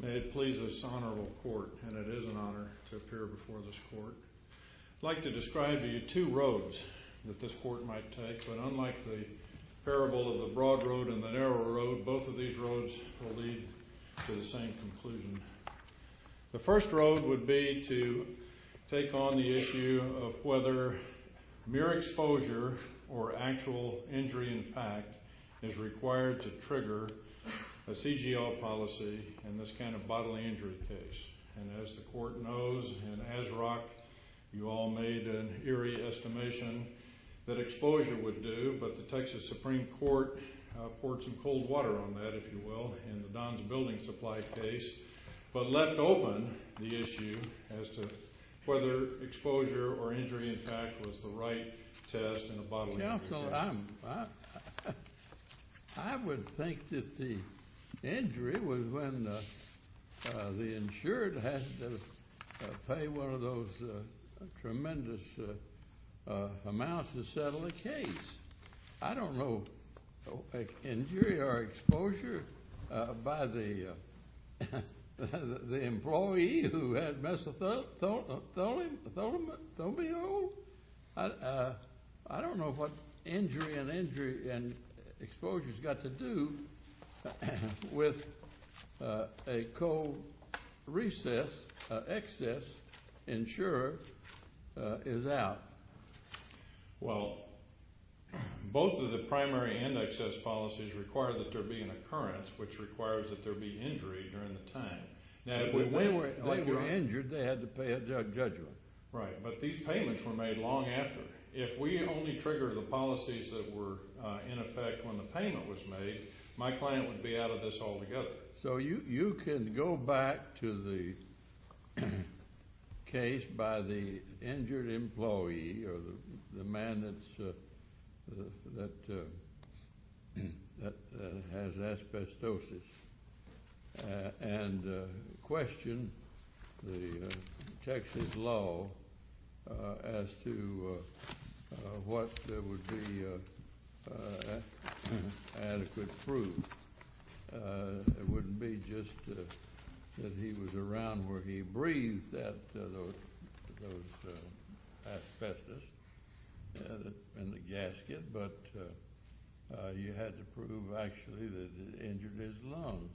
May it please this honorable court, and it is an honor to appear before this court, I'd like to describe to you two roads that this court might take, but unlike the parable of the broad road and the narrow road, both of these roads will lead to the same conclusion. The first road would be to take on the issue of whether mere exposure or actual injury in fact is required to trigger a CGL policy in this kind of bodily injury case. And as the court knows in ASRAC, you all made an eerie estimation that exposure would do, but the Texas Supreme Court poured some cold water on that, if you will, in the Don's Building Supply case, but left open the issue as to whether exposure or injury in fact was the right test in a bodily injury case. Counsel, I would think that the injury was when the insured had to pay one of those tremendous amounts to settle the case. I don't know injury or exposure by the employee who had mesothelioma. I don't know what injury and exposure has got to do with a cold recess, excess insurer is out. Well, both of the primary and excess policies require that there be an occurrence, which requires that there be injury during the time. If they were injured, they had to pay a judgment. Right, but these payments were made long after. If we only trigger the policies that were in effect when the payment was made, my client would be out of this altogether. So you can go back to the case by the injured employee or the man that has asbestosis and question the Texas law as to what would be adequate proof. It wouldn't be just that he was around where he breathed those asbestos in the gasket, but you had to prove actually that it injured his lungs.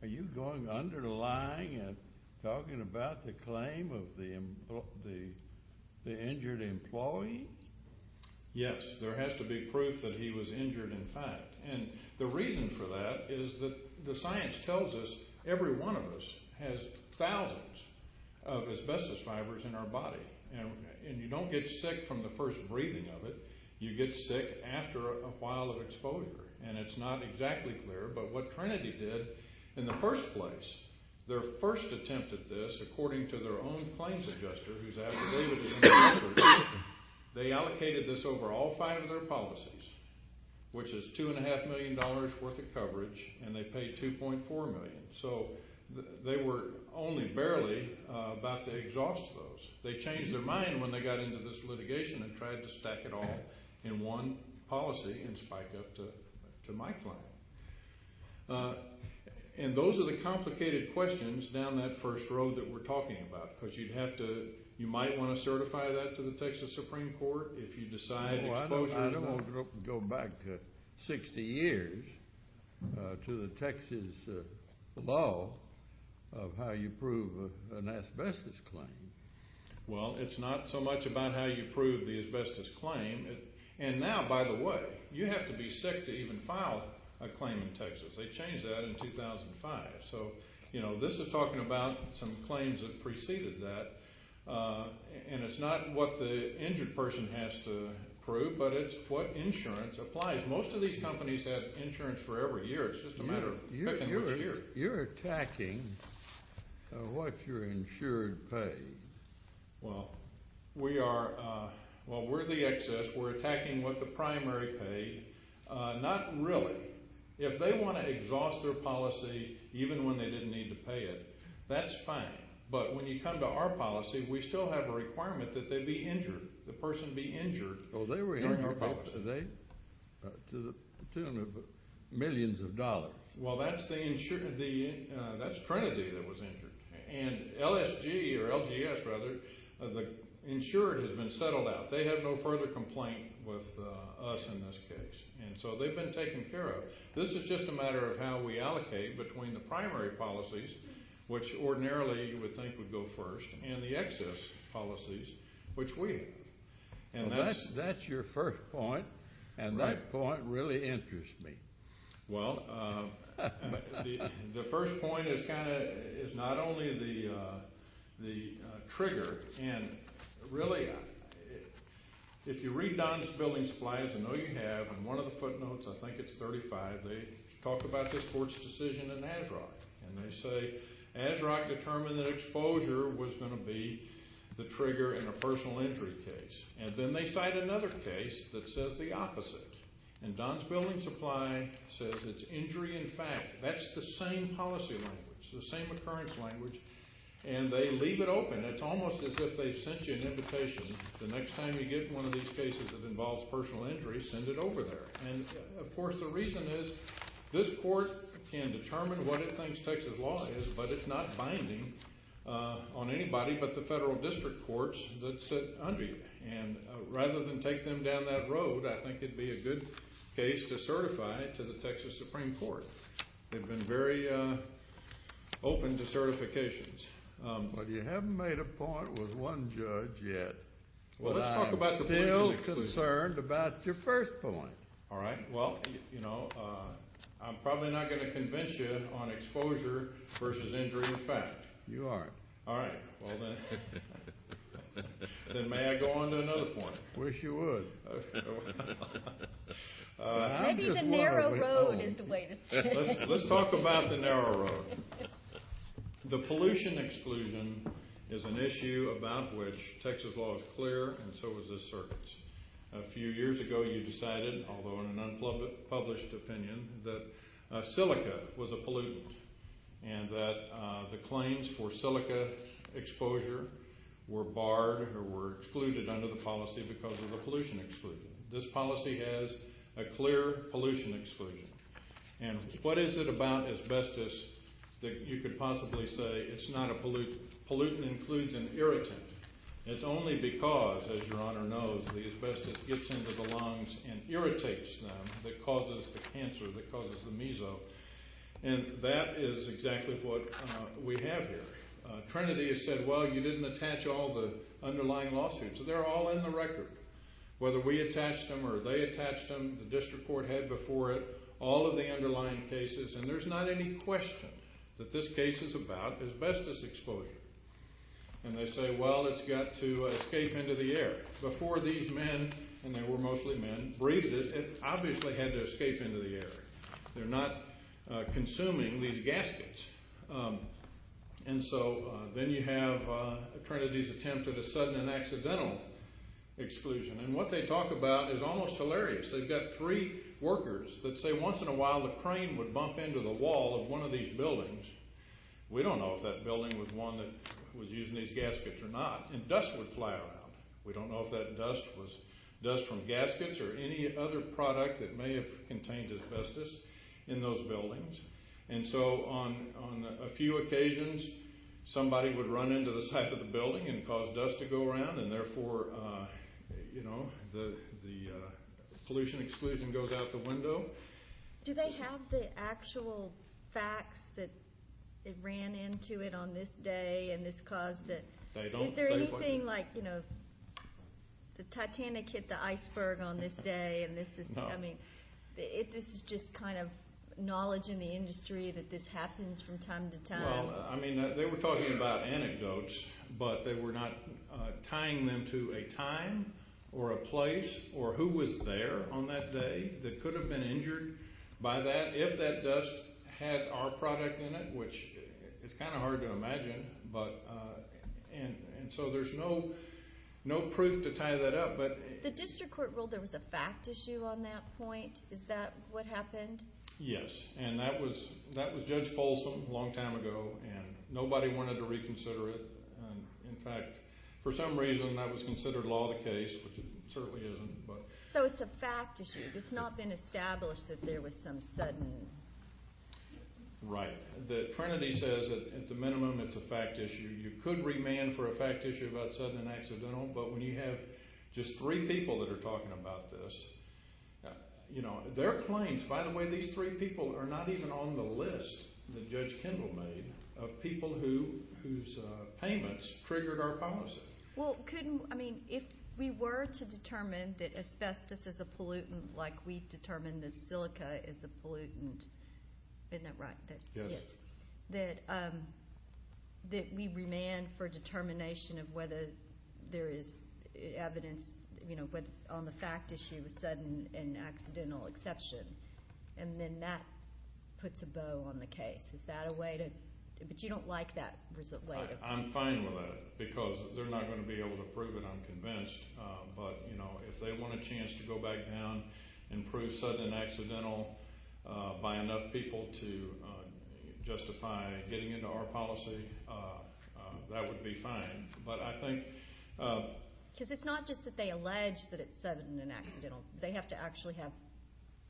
Are you going under the line and talking about the claim of the injured employee? Yes, there has to be proof that he was injured in fact. And the reason for that is that the science tells us every one of us has thousands of asbestos fibers in our body. And you don't get sick from the first breathing of it, you get sick after a while of exposure. And it's not exactly clear, but what Trinity did in the first place, their first attempt at this, according to their own claims adjuster, they allocated this over all five of their policies, which is $2.5 million worth of coverage, and they paid $2.4 million. So they were only barely about to exhaust those. They changed their mind when they got into this litigation and tried to stack it all in one policy and spike up to my claim. And those are the complicated questions down that first road that we're talking about because you'd have to, you might want to certify that to the Texas Supreme Court if you decide exposure. I don't want to go back 60 years to the Texas law of how you prove an asbestos claim. Well, it's not so much about how you prove the asbestos claim. And now, by the way, you have to be sick to even file a claim in Texas. They changed that in 2005. So, you know, this is talking about some claims that preceded that. And it's not what the injured person has to prove, but it's what insurance applies. Most of these companies have insurance for every year. It's just a matter of picking which year. You're attacking what you're insured pays. Well, we are. Well, we're the excess. We're attacking what the primary pay. Not really. If they want to exhaust their policy even when they didn't need to pay it, that's fine. But when you come to our policy, we still have a requirement that they be injured, the person be injured during our policy. Oh, they were injured today to the tune of millions of dollars. Well, that's Trinity that was injured. And LSG or LGS, rather, the insured has been settled out. They have no further complaint with us in this case. And so they've been taken care of. This is just a matter of how we allocate between the primary policies, which ordinarily you would think would go first, and the excess policies, which we have. That's your first point, and that point really interests me. Well, the first point is not only the trigger. And really, if you read Don's building supplies, I know you have, in one of the footnotes, I think it's 35, they talk about this court's decision in ASROC. And they say ASROC determined that exposure was going to be the trigger in a personal injury case. And then they cite another case that says the opposite. And Don's building supply says it's injury in fact. That's the same policy language, the same occurrence language. And they leave it open. It's almost as if they've sent you an invitation. The next time you get one of these cases that involves personal injury, send it over there. And, of course, the reason is this court can determine what it thinks Texas law is, but it's not binding on anybody but the federal district courts that sit under you. And rather than take them down that road, I think it would be a good case to certify it to the Texas Supreme Court. They've been very open to certifications. But you haven't made a point with one judge yet. Well, let's talk about the question. But I am still concerned about your first point. All right. Well, you know, I'm probably not going to convince you on exposure versus injury in fact. You aren't. All right. Well, then may I go on to another point? Wish you would. Maybe the narrow road is the way to go. Let's talk about the narrow road. The pollution exclusion is an issue about which Texas law is clear and so is this circuit. A few years ago you decided, although in an unpublished opinion, that silica was a pollutant and that the claims for silica exposure were barred or were excluded under the policy because of the pollution exclusion. This policy has a clear pollution exclusion. And what is it about asbestos that you could possibly say it's not a pollutant? Pollutant includes an irritant. It's only because, as Your Honor knows, the asbestos gets into the lungs and irritates them that causes the cancer, that causes the meso. And that is exactly what we have here. Trinity has said, well, you didn't attach all the underlying lawsuits. They're all in the record. Whether we attached them or they attached them, the district court had before it all of the underlying cases. And there's not any question that this case is about asbestos exposure. And they say, well, it's got to escape into the air. Before these men, and they were mostly men, breathed it, it obviously had to escape into the air. They're not consuming these gaskets. And so then you have Trinity's attempt at a sudden and accidental exclusion. And what they talk about is almost hilarious. They've got three workers that say once in a while the crane would bump into the wall of one of these buildings. We don't know if that building was one that was using these gaskets or not. And dust would fly around. We don't know if that dust was dust from gaskets or any other product that may have contained asbestos in those buildings. And so on a few occasions somebody would run into the side of the building and cause dust to go around. And therefore, you know, the pollution exclusion goes out the window. Do they have the actual facts that it ran into it on this day and this caused it? Is there anything like, you know, the Titanic hit the iceberg on this day and this is, I mean, this is just kind of knowledge in the industry that this happens from time to time. Well, I mean, they were talking about anecdotes, but they were not tying them to a time or a place or who was there on that day that could have been injured by that if that dust had our product in it, which is kind of hard to imagine. And so there's no proof to tie that up. The district court ruled there was a fact issue on that point. Is that what happened? Yes, and that was Judge Folsom a long time ago, and nobody wanted to reconsider it. In fact, for some reason that was considered law of the case, which it certainly isn't. So it's a fact issue. It's not been established that there was some sudden. Right. The Trinity says that at the minimum it's a fact issue. You could remand for a fact issue about sudden and accidental, but when you have just three people that are talking about this, you know, their claims, by the way, these three people are not even on the list that Judge Kendall made of people whose payments triggered our policy. Well, I mean, if we were to determine that asbestos is a pollutant like we determined that silica is a pollutant, isn't that right? Yes. That we remand for determination of whether there is evidence, you know, on the fact issue of sudden and accidental exception, and then that puts a bow on the case. Is that a way to? But you don't like that way. I'm fine with that because they're not going to be able to prove it, I'm convinced. But, you know, if they want a chance to go back down and prove sudden and accidental by enough people to justify getting into our policy, that would be fine. But I think. Because it's not just that they allege that it's sudden and accidental. They have to actually have,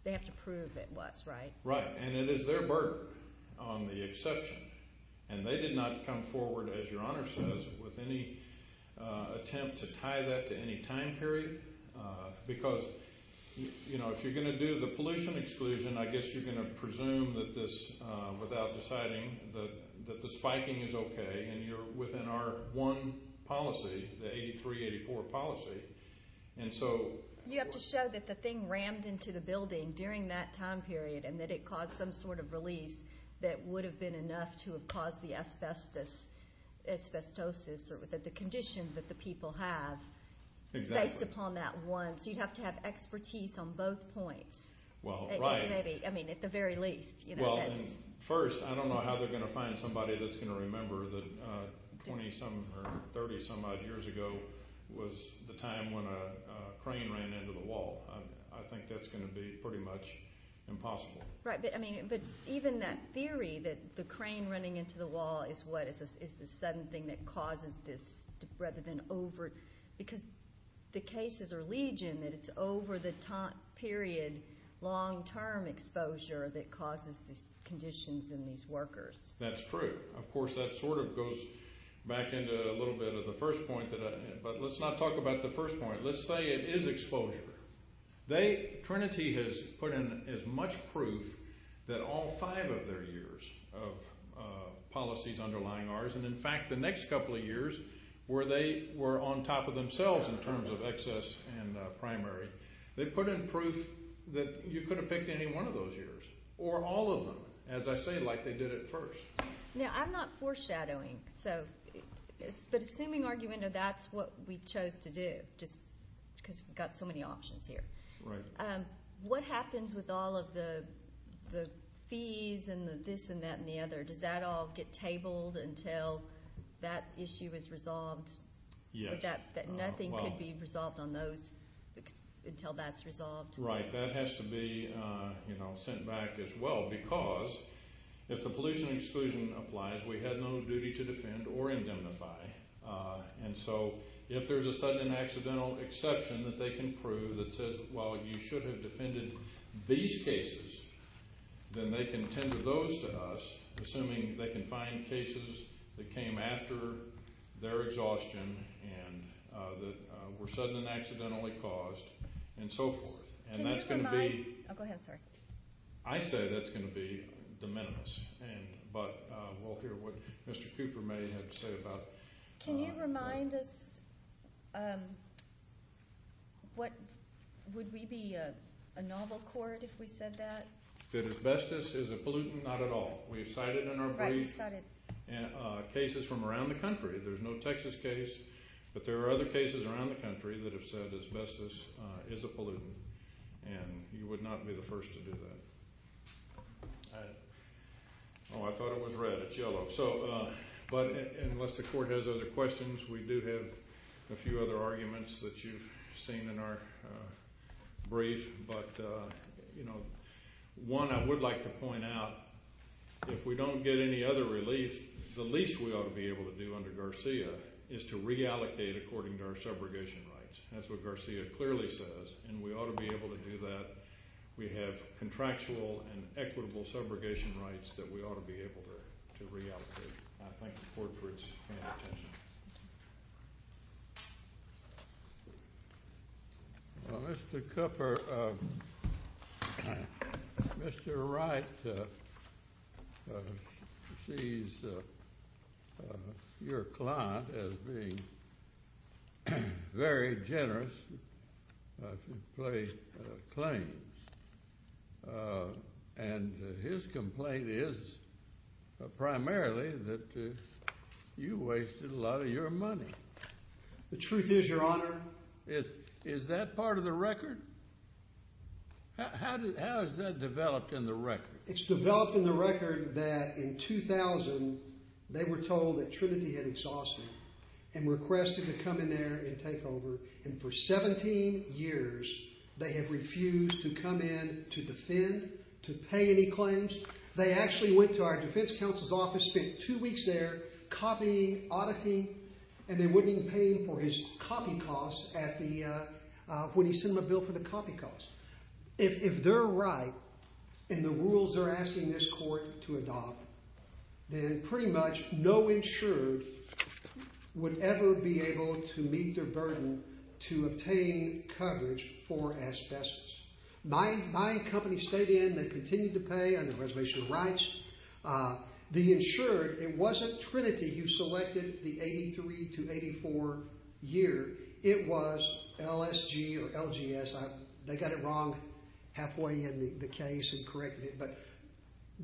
they have to prove it was, right? Right. And it is their burden on the exception. And they did not come forward, as Your Honor says, with any attempt to tie that to any time period. Because, you know, if you're going to do the pollution exclusion, I guess you're going to presume that this, without deciding, that the spiking is okay, and you're within our one policy, the 8384 policy. And so. You have to show that the thing rammed into the building during that time period and that it caused some sort of release that would have been enough to have caused the asbestosis or the condition that the people have. Exactly. Based upon that one. So you'd have to have expertise on both points. Well, right. Maybe, I mean, at the very least. Well, first, I don't know how they're going to find somebody that's going to remember that 20-some or 30-some odd years ago was the time when a crane ran into the wall. I think that's going to be pretty much impossible. Right. But, I mean, even that theory that the crane running into the wall is what, is the sudden thing that causes this rather than over, because the cases are legion that it's over the period long-term exposure that causes these conditions in these workers. That's true. Of course, that sort of goes back into a little bit of the first point that I made. But let's not talk about the first point. Let's say it is exposure. Trinity has put in as much proof that all five of their years of policies underlying ours, and, in fact, the next couple of years where they were on top of themselves in terms of excess and primary, they put in proof that you could have picked any one of those years or all of them, as I say, like they did at first. Now, I'm not foreshadowing, but assuming argument of that's what we chose to do, just because we've got so many options here. Right. What happens with all of the fees and the this and that and the other? Does that all get tabled until that issue is resolved? Yes. That nothing could be resolved on those until that's resolved? Right. That has to be, you know, sent back as well because if the pollution exclusion applies, we had no duty to defend or indemnify. And so if there's a sudden and accidental exception that they can prove that says, well, you should have defended these cases, then they can tend to those to us, assuming they can find cases that came after their exhaustion and that were sudden and accidentally caused and so forth. And that's going to be. Go ahead. Sorry. I say that's going to be de minimis. But we'll hear what Mr. Cooper may have to say about. Can you remind us what would be a novel court if we said that? That asbestos is a pollutant? Not at all. We've cited in our brief cases from around the country. There's no Texas case, but there are other cases around the country that have said asbestos is a pollutant, and you would not be the first to do that. Oh, I thought it was red. It's yellow. But unless the court has other questions, we do have a few other arguments that you've seen in our brief. But, you know, one I would like to point out, if we don't get any other relief, the least we ought to be able to do under Garcia is to reallocate according to our subrogation rights. That's what Garcia clearly says, and we ought to be able to do that. We have contractual and equitable subrogation rights that we ought to be able to reallocate. I thank the court for its kind attention. Thank you. Well, Mr. Cooper, Mr. Wright sees your client as being very generous to place claims, and his complaint is primarily that you wasted a lot of your money. The truth is, Your Honor. Is that part of the record? How is that developed in the record? It's developed in the record that in 2000 they were told that Trinity had exhausted and requested to come in there and take over, and for 17 years they have refused to come in to defend, to pay any claims. They actually went to our defense counsel's office, spent two weeks there copying, auditing, and they wouldn't even pay him for his copy costs when he sent them a bill for the copy costs. If they're right in the rules they're asking this court to adopt, then pretty much no insured would ever be able to meet their burden to obtain coverage for asbestos. My company stayed in. They continued to pay under reservation rights. The insured, it wasn't Trinity who selected the 83 to 84 year. It was LSG or LGS. They got it wrong halfway in the case and corrected it, but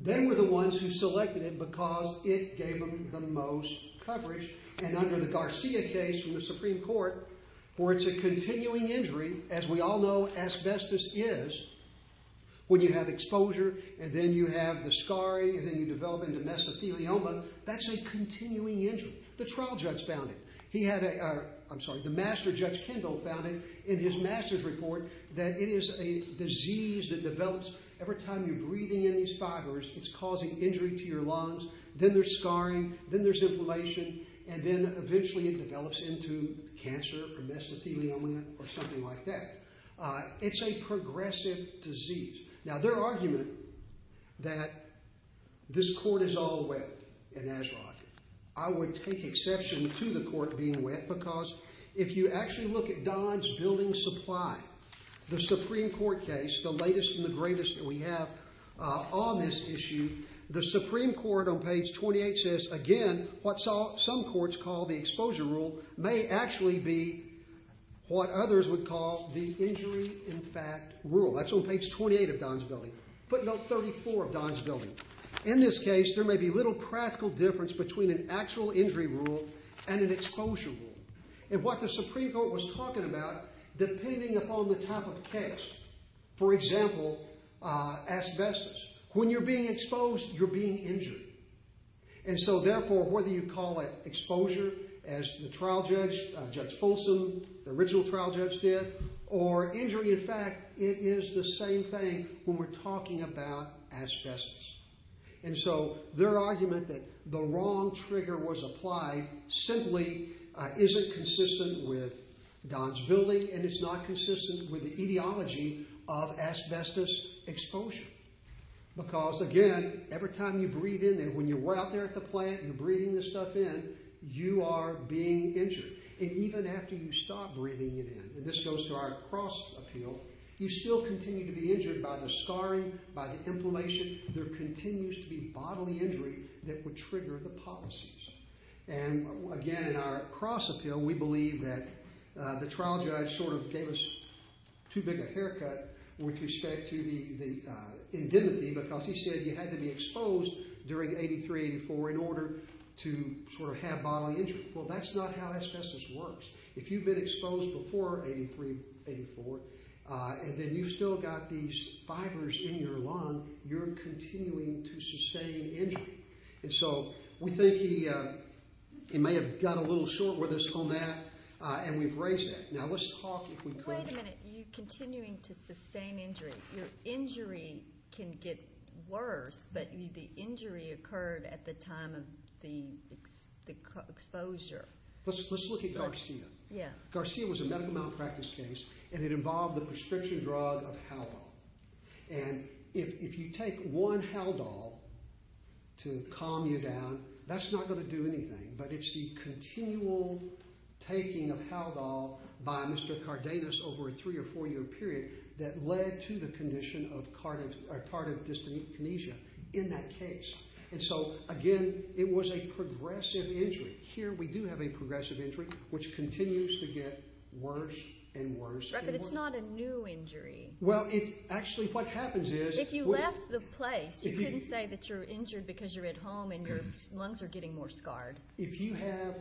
they were the ones who selected it because it gave them the most coverage, and under the Garcia case from the Supreme Court where it's a continuing injury, as we all know asbestos is when you have exposure and then you have the scarring and then you develop into mesothelioma, that's a continuing injury. The trial judge found it. He had a, I'm sorry, the master judge Kendall found it in his master's report that it is a disease that develops every time you're breathing in these fibers. It's causing injury to your lungs. Then there's scarring. Then there's inflammation, and then eventually it develops into cancer or mesothelioma or something like that. It's a progressive disease. Now, their argument that this court is all wet in Azraq, I would take exception to the court being wet because if you actually look at Don's building supply, the Supreme Court case, the latest and the greatest that we have on this issue, the Supreme Court on page 28 says, again, what some courts call the exposure rule may actually be what others would call the injury in fact rule. That's on page 28 of Don's building, footnote 34 of Don's building. In this case, there may be little practical difference between an actual injury rule and an exposure rule. What the Supreme Court was talking about, depending upon the type of case, for example, asbestos, when you're being exposed, you're being injured. Therefore, whether you call it exposure, as the trial judge, Judge Folsom, the original trial judge did, or injury in fact, it is the same thing when we're talking about asbestos. Their argument that the wrong trigger was applied simply isn't consistent with Don's building and it's not consistent with the etiology of asbestos exposure because, again, every time you breathe in there, when you're out there at the plant and you're breathing this stuff in, you are being injured. Even after you stop breathing it in, and this goes to our cross appeal, you still continue to be injured by the scarring, by the inflammation, there continues to be bodily injury that would trigger the policies. Again, in our cross appeal, we believe that the trial judge sort of gave us too big a haircut with respect to the indemnity because he said you had to be exposed during 83-84 in order to sort of have bodily injury. Well, that's not how asbestos works. If you've been exposed before 83-84 and then you've still got these fibers in your lung, you're continuing to sustain injury. And so we think he may have got a little short with us on that and we've raised that. Now, let's talk if we could. Wait a minute. You're continuing to sustain injury. Your injury can get worse, but the injury occurred at the time of the exposure. Let's look at Garcia. Yeah. Garcia was a medical malpractice case and it involved the prescription drug of Halol. And if you take one Halol to calm you down, that's not going to do anything, but it's the continual taking of Halol by Mr. Cardenas over a three- or four-year period that led to the condition of tardive dyskinesia in that case. And so, again, it was a progressive injury. Here we do have a progressive injury, which continues to get worse and worse. But it's not a new injury. Well, actually what happens is— If you left the place, you couldn't say that you're injured because you're at home and your lungs are getting more scarred. If you have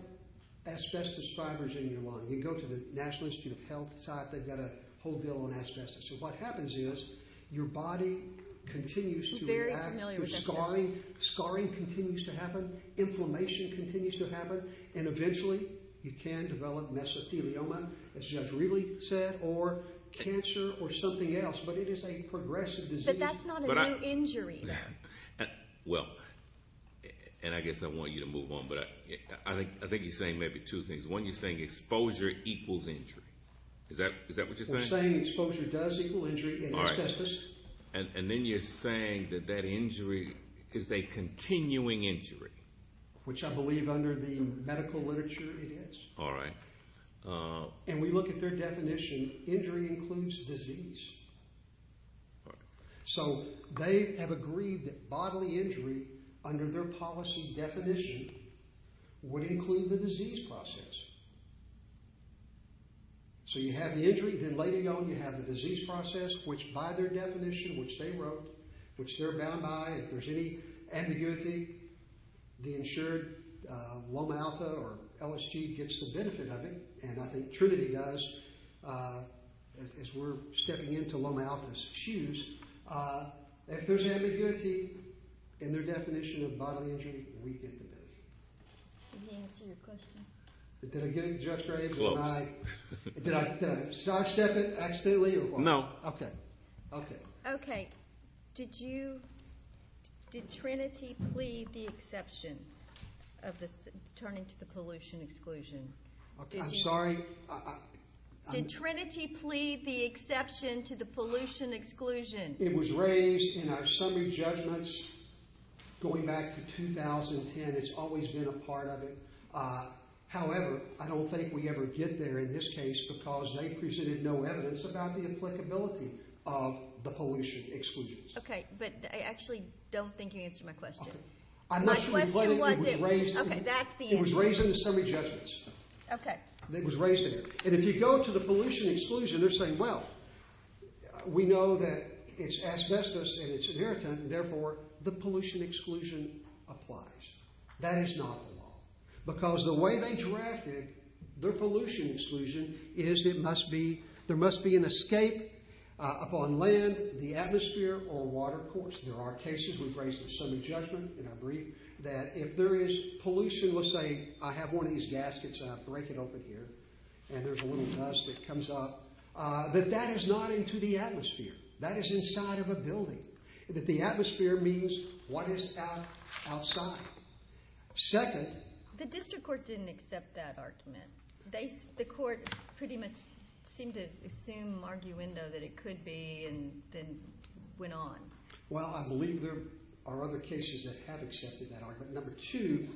asbestos fibers in your lung, you can go to the National Institute of Health site. They've got a whole deal on asbestos. So what happens is your body continues to react. I'm very familiar with asbestos. Scarring continues to happen. Inflammation continues to happen. And eventually, you can develop mesothelioma, as Judge Riley said, or cancer or something else. But it is a progressive disease. But that's not a new injury. Well, and I guess I want you to move on, but I think you're saying maybe two things. One, you're saying exposure equals injury. Is that what you're saying? We're saying exposure does equal injury in asbestos. And then you're saying that that injury is a continuing injury. Which I believe under the medical literature it is. All right. And we look at their definition. Injury includes disease. All right. So they have agreed that bodily injury, under their policy definition, would include the disease process. So you have the injury. Then later on, you have the disease process, which by their definition, which they wrote, which they're bound by, if there's any ambiguity, the insured, Loma Alta or LSG, gets the benefit of it. And I think Trinity does, as we're stepping into Loma Alta's shoes. If there's ambiguity in their definition of bodily injury, we get the benefit. Did he answer your question? Did I get it just right? Close. Did I sidestep it accidentally? No. Okay. Okay. Did Trinity plead the exception of turning to the pollution exclusion? I'm sorry? Did Trinity plead the exception to the pollution exclusion? It was raised in our summary judgments going back to 2010. It's always been a part of it. However, I don't think we ever get there in this case because they presented no evidence about the applicability of the pollution exclusions. Okay. But I actually don't think you answered my question. Okay. My question was, okay, that's the answer. It was raised in the summary judgments. Okay. It was raised there. And if you go to the pollution exclusion, they're saying, well, we know that it's asbestos and it's inheritant. And therefore, the pollution exclusion applies. That is not the law. Because the way they drafted their pollution exclusion is there must be an escape upon land, the atmosphere, or water, of course. There are cases we've raised in summary judgment, and I believe that if there is pollution, let's say I have one of these gaskets, and I break it open here, and there's a little dust that comes up, that that is not into the atmosphere. That is inside of a building. That the atmosphere means what is outside. Second. The district court didn't accept that argument. The court pretty much seemed to assume arguendo that it could be and then went on. Well, I believe there are other cases that have accepted that argument. Number two,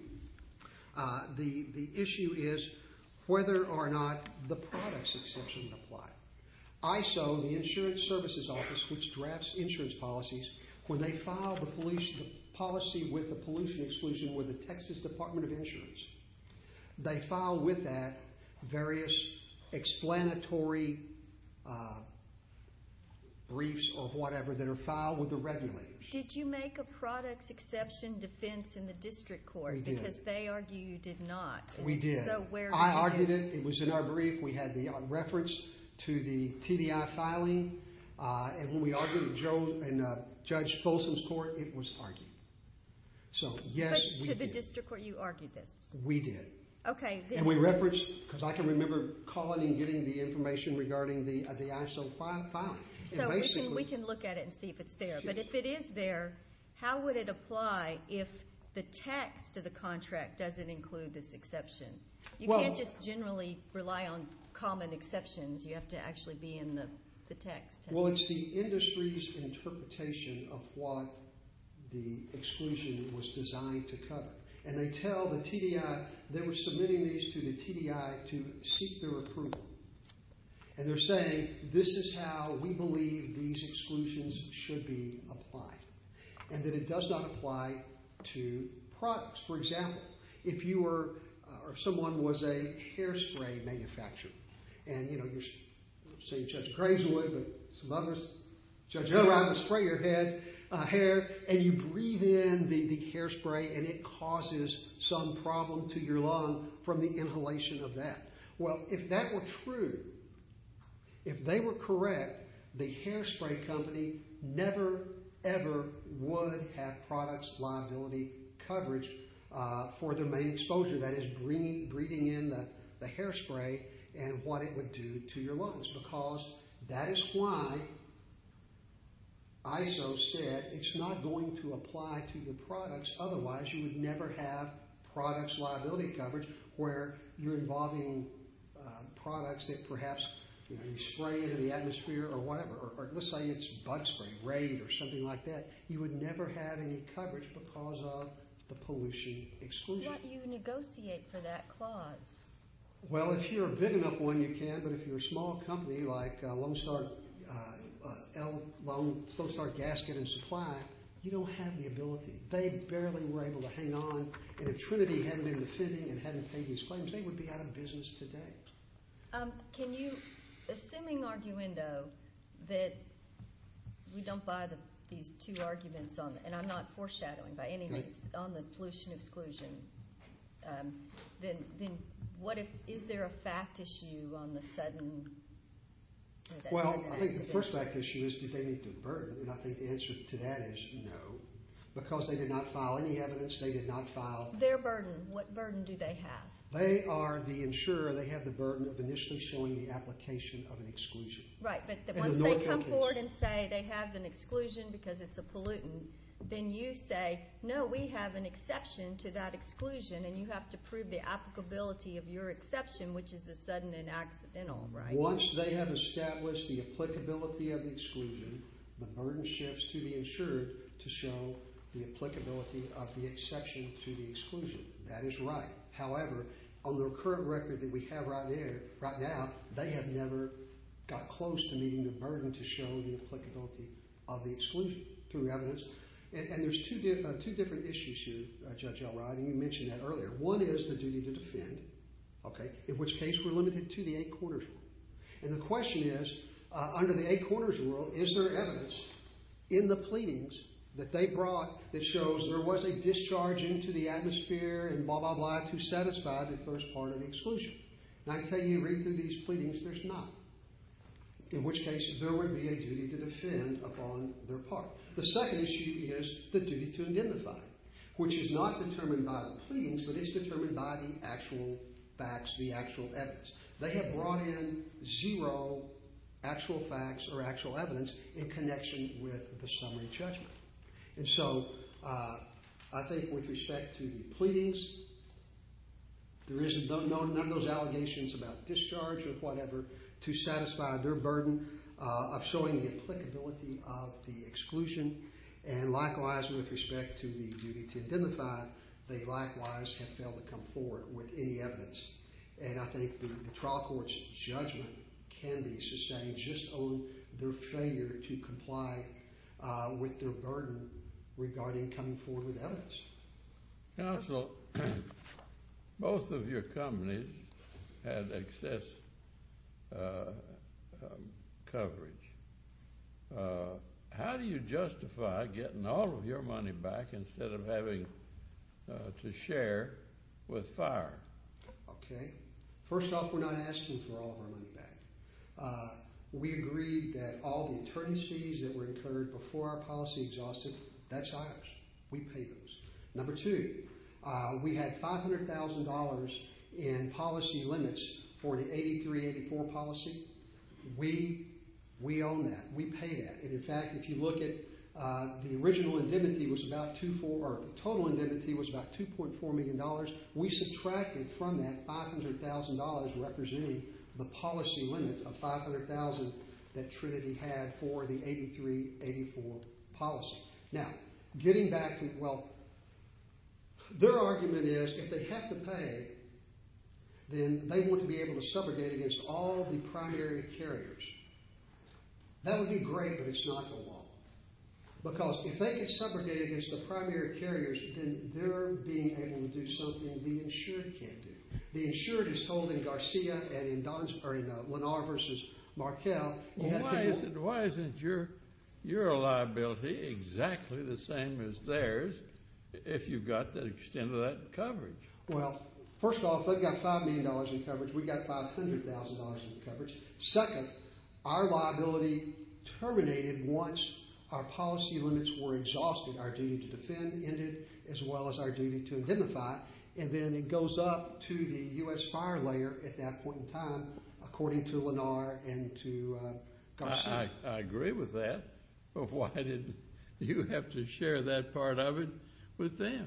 the issue is whether or not the products exception apply. ISO, the Insurance Services Office, which drafts insurance policies, when they file the policy with the pollution exclusion with the Texas Department of Insurance, they file with that various explanatory briefs or whatever that are filed with the regulators. Did you make a products exception defense in the district court? We did. Because they argue you did not. We did. So where is that? I argued it. It was in our brief. We had the reference to the TDI filing. And when we argued with Joe and Judge Folsom's court, it was argued. So, yes, we did. But to the district court, you argued this? We did. Okay. And we referenced, because I can remember calling and getting the information regarding the ISO filing. So we can look at it and see if it's there. But if it is there, how would it apply if the text of the contract doesn't include this exception? You can't just generally rely on common exceptions. You have to actually be in the text. Well, it's the industry's interpretation of what the exclusion was designed to cover. And they tell the TDI, they were submitting these to the TDI to seek their approval. And they're saying, this is how we believe these exclusions should be applied. And that it does not apply to products. For example, if you were or someone was a hairspray manufacturer. And, you know, you're seeing Judge Graveswood, but some others, Judge Hillrider, spray your hair, and you breathe in the hairspray and it causes some problem to your lung from the inhalation of that. Well, if that were true, if they were correct, the hairspray company never, ever would have products liability coverage for their main exposure. That is, breathing in the hairspray and what it would do to your lungs. Because that is why ISO said it's not going to apply to your products. Otherwise, you would never have products liability coverage, where you're involving products that perhaps, you know, you spray into the atmosphere or whatever. Or let's say it's butt spray, raid or something like that. You would never have any coverage because of the pollution exclusion. Why don't you negotiate for that clause? Well, if you're a big enough one, you can. But if you're a small company like Lone Star Gasket and Supply, you don't have the ability. They barely were able to hang on. And if Trinity hadn't been defending and hadn't made these claims, they would be out of business today. Can you, assuming arguendo, that we don't buy these two arguments on, and I'm not foreshadowing by any means, on the pollution exclusion, then what if, is there a fact issue on the sudden? Well, I think the first fact issue is, did they meet their burden? And I think the answer to that is no, because they did not file any evidence. They did not file their burden. What burden do they have? They are the insurer. They have the burden of initially showing the application of an exclusion. Right, but once they come forward and say they have an exclusion because it's a pollutant, then you say, no, we have an exception to that exclusion, and you have to prove the applicability of your exception, which is the sudden and accidental, right? Once they have established the applicability of the exclusion, the burden shifts to the insurer to show the applicability of the exception to the exclusion. That is right. However, on the current record that we have right now, they have never got close to meeting the burden to show the applicability of the exclusion through evidence. And there's two different issues here, Judge Elrod, and you mentioned that earlier. One is the duty to defend, okay, in which case we're limited to the eight corners rule. And the question is, under the eight corners rule, is there evidence in the pleadings that they brought that shows there was a discharge into the atmosphere and blah, blah, blah to satisfy the first part of the exclusion? And I tell you, read through these pleadings, there's not, in which case there would be a duty to defend upon their part. The second issue is the duty to identify, which is not determined by the pleadings, but is determined by the actual facts, the actual evidence. They have brought in zero actual facts or actual evidence in connection with the summary judgment. And so I think with respect to the pleadings, there is none of those allegations about discharge or whatever to satisfy their burden of showing the applicability of the exclusion. And likewise, with respect to the duty to identify, they likewise have failed to come forward with any evidence. And I think the trial court's judgment can be sustained just on their failure to comply with their burden regarding coming forward with evidence. Counsel, both of your companies had excess coverage. How do you justify getting all of your money back instead of having to share with fire? Okay. First off, we're not asking for all of our money back. We agreed that all the attorney's fees that were incurred before our policy exhausted, that's ours. We pay those. Number two, we had $500,000 in policy limits for the 8384 policy. We own that. We pay that. And in fact, if you look at the original indemnity was about 2.4 or the total indemnity was about $2.4 million. We subtracted from that $500,000 representing the policy limit of 500,000 that Trinity had for the 8384 policy. Now, getting back to, well, their argument is if they have to pay, then they want to be able to subrogate against all the primary carriers. That would be great, but it's not the law. Because if they can subrogate against the primary carriers, then they're being able to do something the insured can't do. The insured is told in Garcia and in Lennar v. Markell. Well, why isn't your liability exactly the same as theirs if you've got the extent of that coverage? Well, first of all, if they've got $5 million in coverage, we've got $500,000 in coverage. Second, our liability terminated once our policy limits were exhausted. Our duty to defend ended as well as our duty to indemnify. And then it goes up to the U.S. fire layer at that point in time, according to Lennar and to Garcia. I agree with that, but why did you have to share that part of it with them?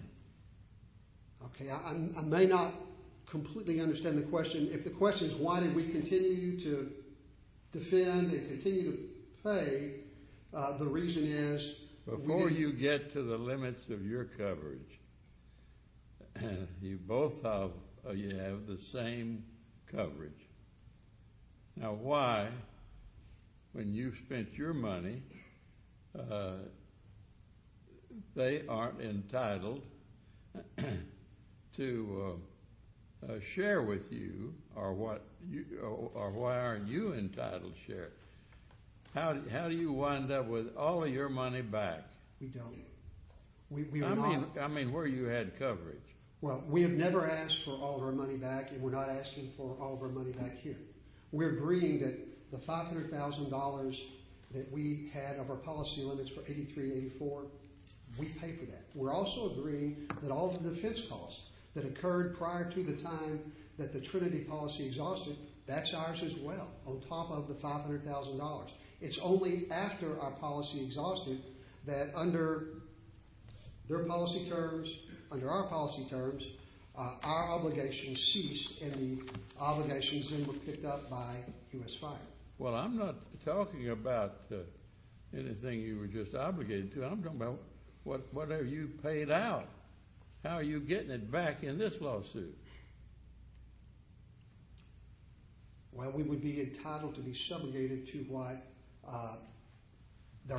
Okay, I may not completely understand the question. If the question is why did we continue to defend and continue to pay, the reason is— Before you get to the limits of your coverage, you both have the same coverage. Now, why, when you've spent your money, they aren't entitled to share with you? Or why aren't you entitled to share? How do you wind up with all of your money back? We don't. I mean, where you had coverage. Well, we have never asked for all of our money back, and we're not asking for all of our money back here. We're agreeing that the $500,000 that we had of our policy limits for 83-84, we pay for that. We're also agreeing that all the defense costs that occurred prior to the time that the Trinity policy exhausted, that's ours as well, on top of the $500,000. It's only after our policy exhausted that under their policy terms, under our policy terms, our obligations ceased and the obligations then were picked up by U.S. Fire. Well, I'm not talking about anything you were just obligated to. I'm talking about whatever you paid out. How are you getting it back in this lawsuit? Well, we would be entitled to be subjugated to what our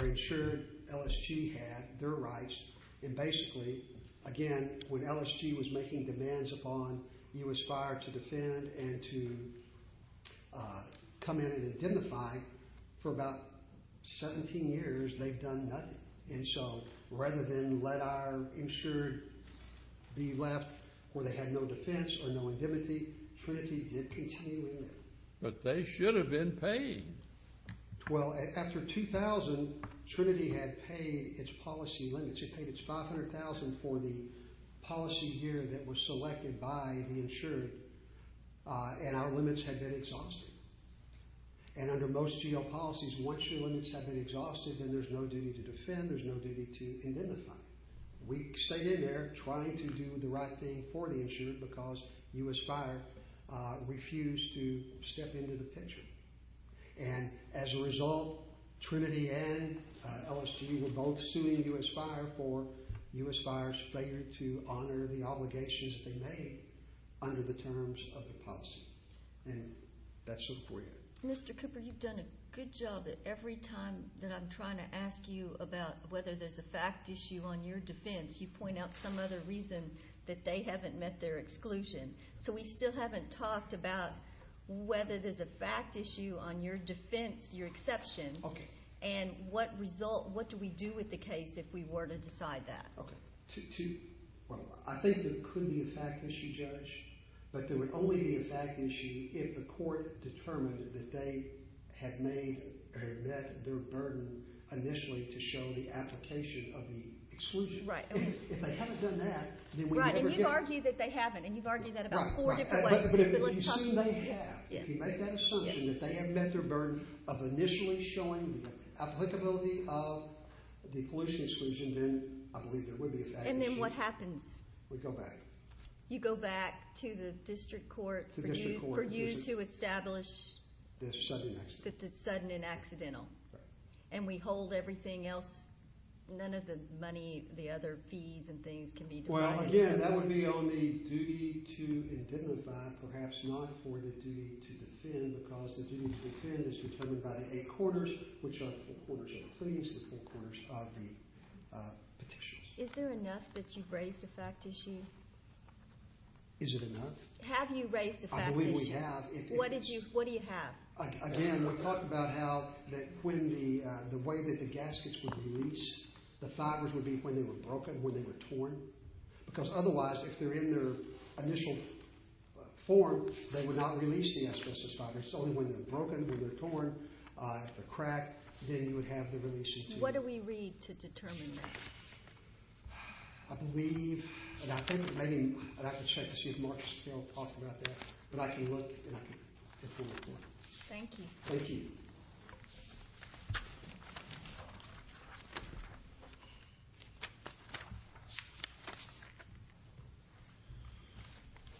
insured LSG had, their rights. And basically, again, when LSG was making demands upon U.S. Fire to defend and to come in and identify, for about 17 years, they've done nothing. And so rather than let our insured be left where they had no defense or no indemnity, Trinity did continue with it. But they should have been paid. Well, after 2000, Trinity had paid its policy limits. It paid its $500,000 for the policy here that was selected by the insured, and our limits had been exhausted. And under most GEO policies, once your limits have been exhausted, then there's no duty to defend, there's no duty to identify. We stayed in there trying to do the right thing for the insured because U.S. Fire refused to step into the picture. And as a result, Trinity and LSG were both suing U.S. Fire for U.S. Fire's failure to honor the obligations they made under the terms of the policy. And that's it for you. Mr. Cooper, you've done a good job that every time that I'm trying to ask you about whether there's a fact issue on your defense, you point out some other reason that they haven't met their exclusion. So we still haven't talked about whether there's a fact issue on your defense, your exception. Okay. And what result – what do we do with the case if we were to decide that? Well, I think there could be a fact issue, Judge. But there would only be a fact issue if the court determined that they had made or met their burden initially to show the application of the exclusion. Right. If they haven't done that, then we never get – Right, and you've argued that they haven't, and you've argued that about four different ways. Right, right. But if you assume they have, if you make that assertion that they have met their burden of initially showing the applicability of the pollution exclusion, then I believe there would be a fact issue. And then what happens? We go back. You go back to the district court for you to establish – The sudden and accidental. The sudden and accidental. Right. And we hold everything else – none of the money, the other fees and things can be defined? Well, again, that would be on the duty to indemnify, perhaps not for the duty to defend because the duty to defend is determined by the eight quarters, which are the four quarters of the pleas, the four quarters of the petitions. Is there enough that you've raised a fact issue? Is it enough? Have you raised a fact issue? I believe we have. What do you have? Again, we're talking about how the way that the gaskets would release, the fibers would be when they were broken, when they were torn. Because otherwise, if they're in their initial form, they would not release the asbestos fibers. Only when they're broken, when they're torn, if they're cracked, then you would have the release issue. What do we read to determine that? I believe – and I think maybe I'd have to check to see if Mark's going to talk about that. But I can look and I can get forward with it. Thank you. Thank you. Thank you.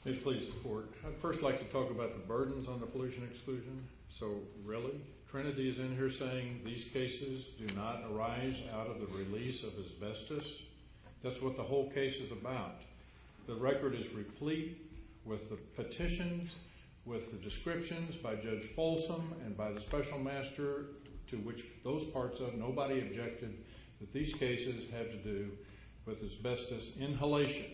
May it please the Court. I'd first like to talk about the burdens on the pollution exclusion. So, really? Trinity is in here saying these cases do not arise out of the release of asbestos. That's what the whole case is about. The record is replete with the petitions, with the descriptions by Judge Folsom and by the special master to which those parts of. Nobody objected that these cases had to do with asbestos inhalation.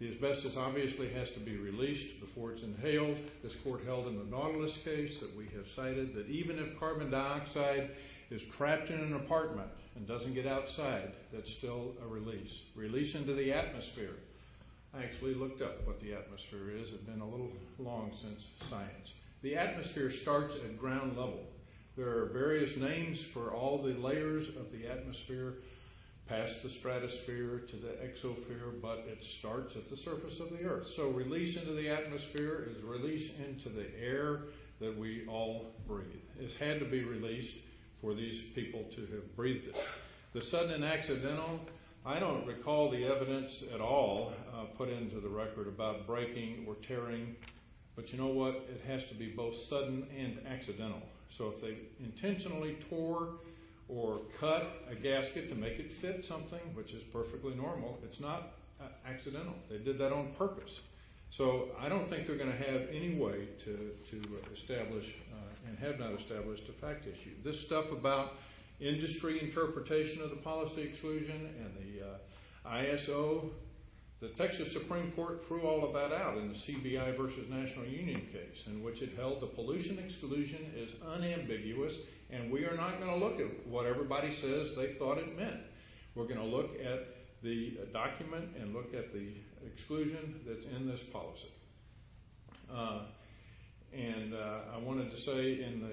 The asbestos obviously has to be released before it's inhaled. This Court held in the Nautilus case that we have cited that even if carbon dioxide is trapped in an apartment and doesn't get outside, that's still a release. Release into the atmosphere. I actually looked up what the atmosphere is. It's been a little long since science. The atmosphere starts at ground level. There are various names for all the layers of the atmosphere past the stratosphere to the exosphere, but it starts at the surface of the earth. So, release into the atmosphere is release into the air that we all breathe. It's had to be released for these people to have breathed it. The sudden and accidental, I don't recall the evidence at all put into the record about breaking or tearing. But you know what? It has to be both sudden and accidental. So if they intentionally tore or cut a gasket to make it fit something, which is perfectly normal, it's not accidental. They did that on purpose. So I don't think they're going to have any way to establish and have not established a fact issue. This stuff about industry interpretation of the policy exclusion and the ISO. The Texas Supreme Court threw all of that out in the CBI versus National Union case in which it held the pollution exclusion is unambiguous, and we are not going to look at what everybody says they thought it meant. We're going to look at the document and look at the exclusion that's in this policy. And I wanted to say in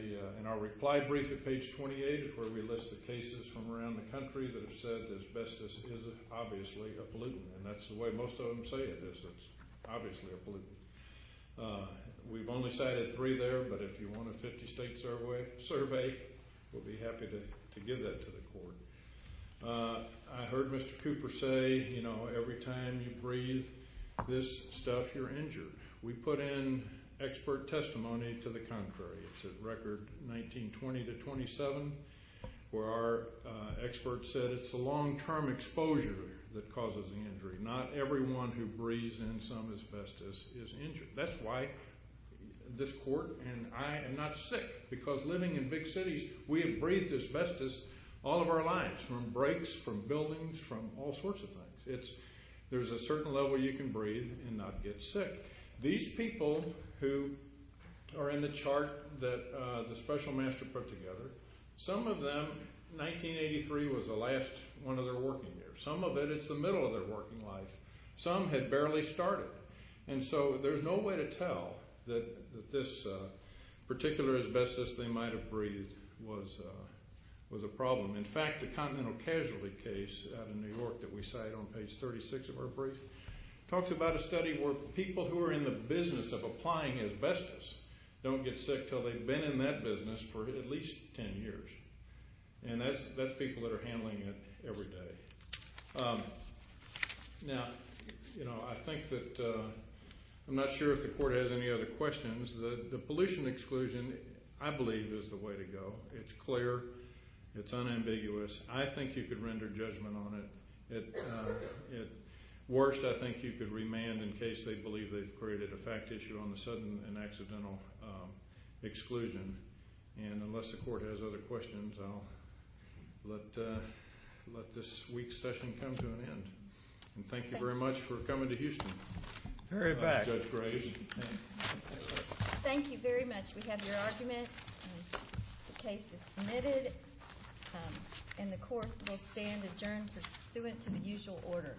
our reply brief at page 28 is where we list the cases from around the country that have said asbestos is obviously a pollutant, and that's the way most of them say it is. It's obviously a pollutant. We've only cited three there, but if you want a 50-state survey, we'll be happy to give that to the court. I heard Mr. Cooper say, you know, every time you breathe this stuff, you're injured. We put in expert testimony to the contrary. It's at Record 1920-27 where our expert said it's the long-term exposure that causes the injury. Not everyone who breathes in some asbestos is injured. That's why this court and I am not sick because living in big cities, we have breathed asbestos all of our lives from brakes, from buildings, from all sorts of things. There's a certain level you can breathe and not get sick. These people who are in the chart that the special master put together, some of them, 1983 was the last one of their working years. Some of it, it's the middle of their working life. Some had barely started. And so there's no way to tell that this particular asbestos they might have breathed was a problem. In fact, the Continental Casualty case out of New York that we cite on page 36 of our brief talks about a study where people who are in the business of applying asbestos don't get sick until they've been in that business for at least 10 years. And that's people that are handling it every day. Now, you know, I think that I'm not sure if the court has any other questions. The pollution exclusion, I believe, is the way to go. It's clear. It's unambiguous. I think you could render judgment on it. At worst, I think you could remand in case they believe they've created a fact issue on the sudden and accidental exclusion. And unless the court has other questions, I'll let this week's session come to an end. And thank you very much for coming to Houston. Very back. Judge Graves. Thank you very much. We have your argument. The case is submitted. And the court will stand adjourned pursuant to the usual order.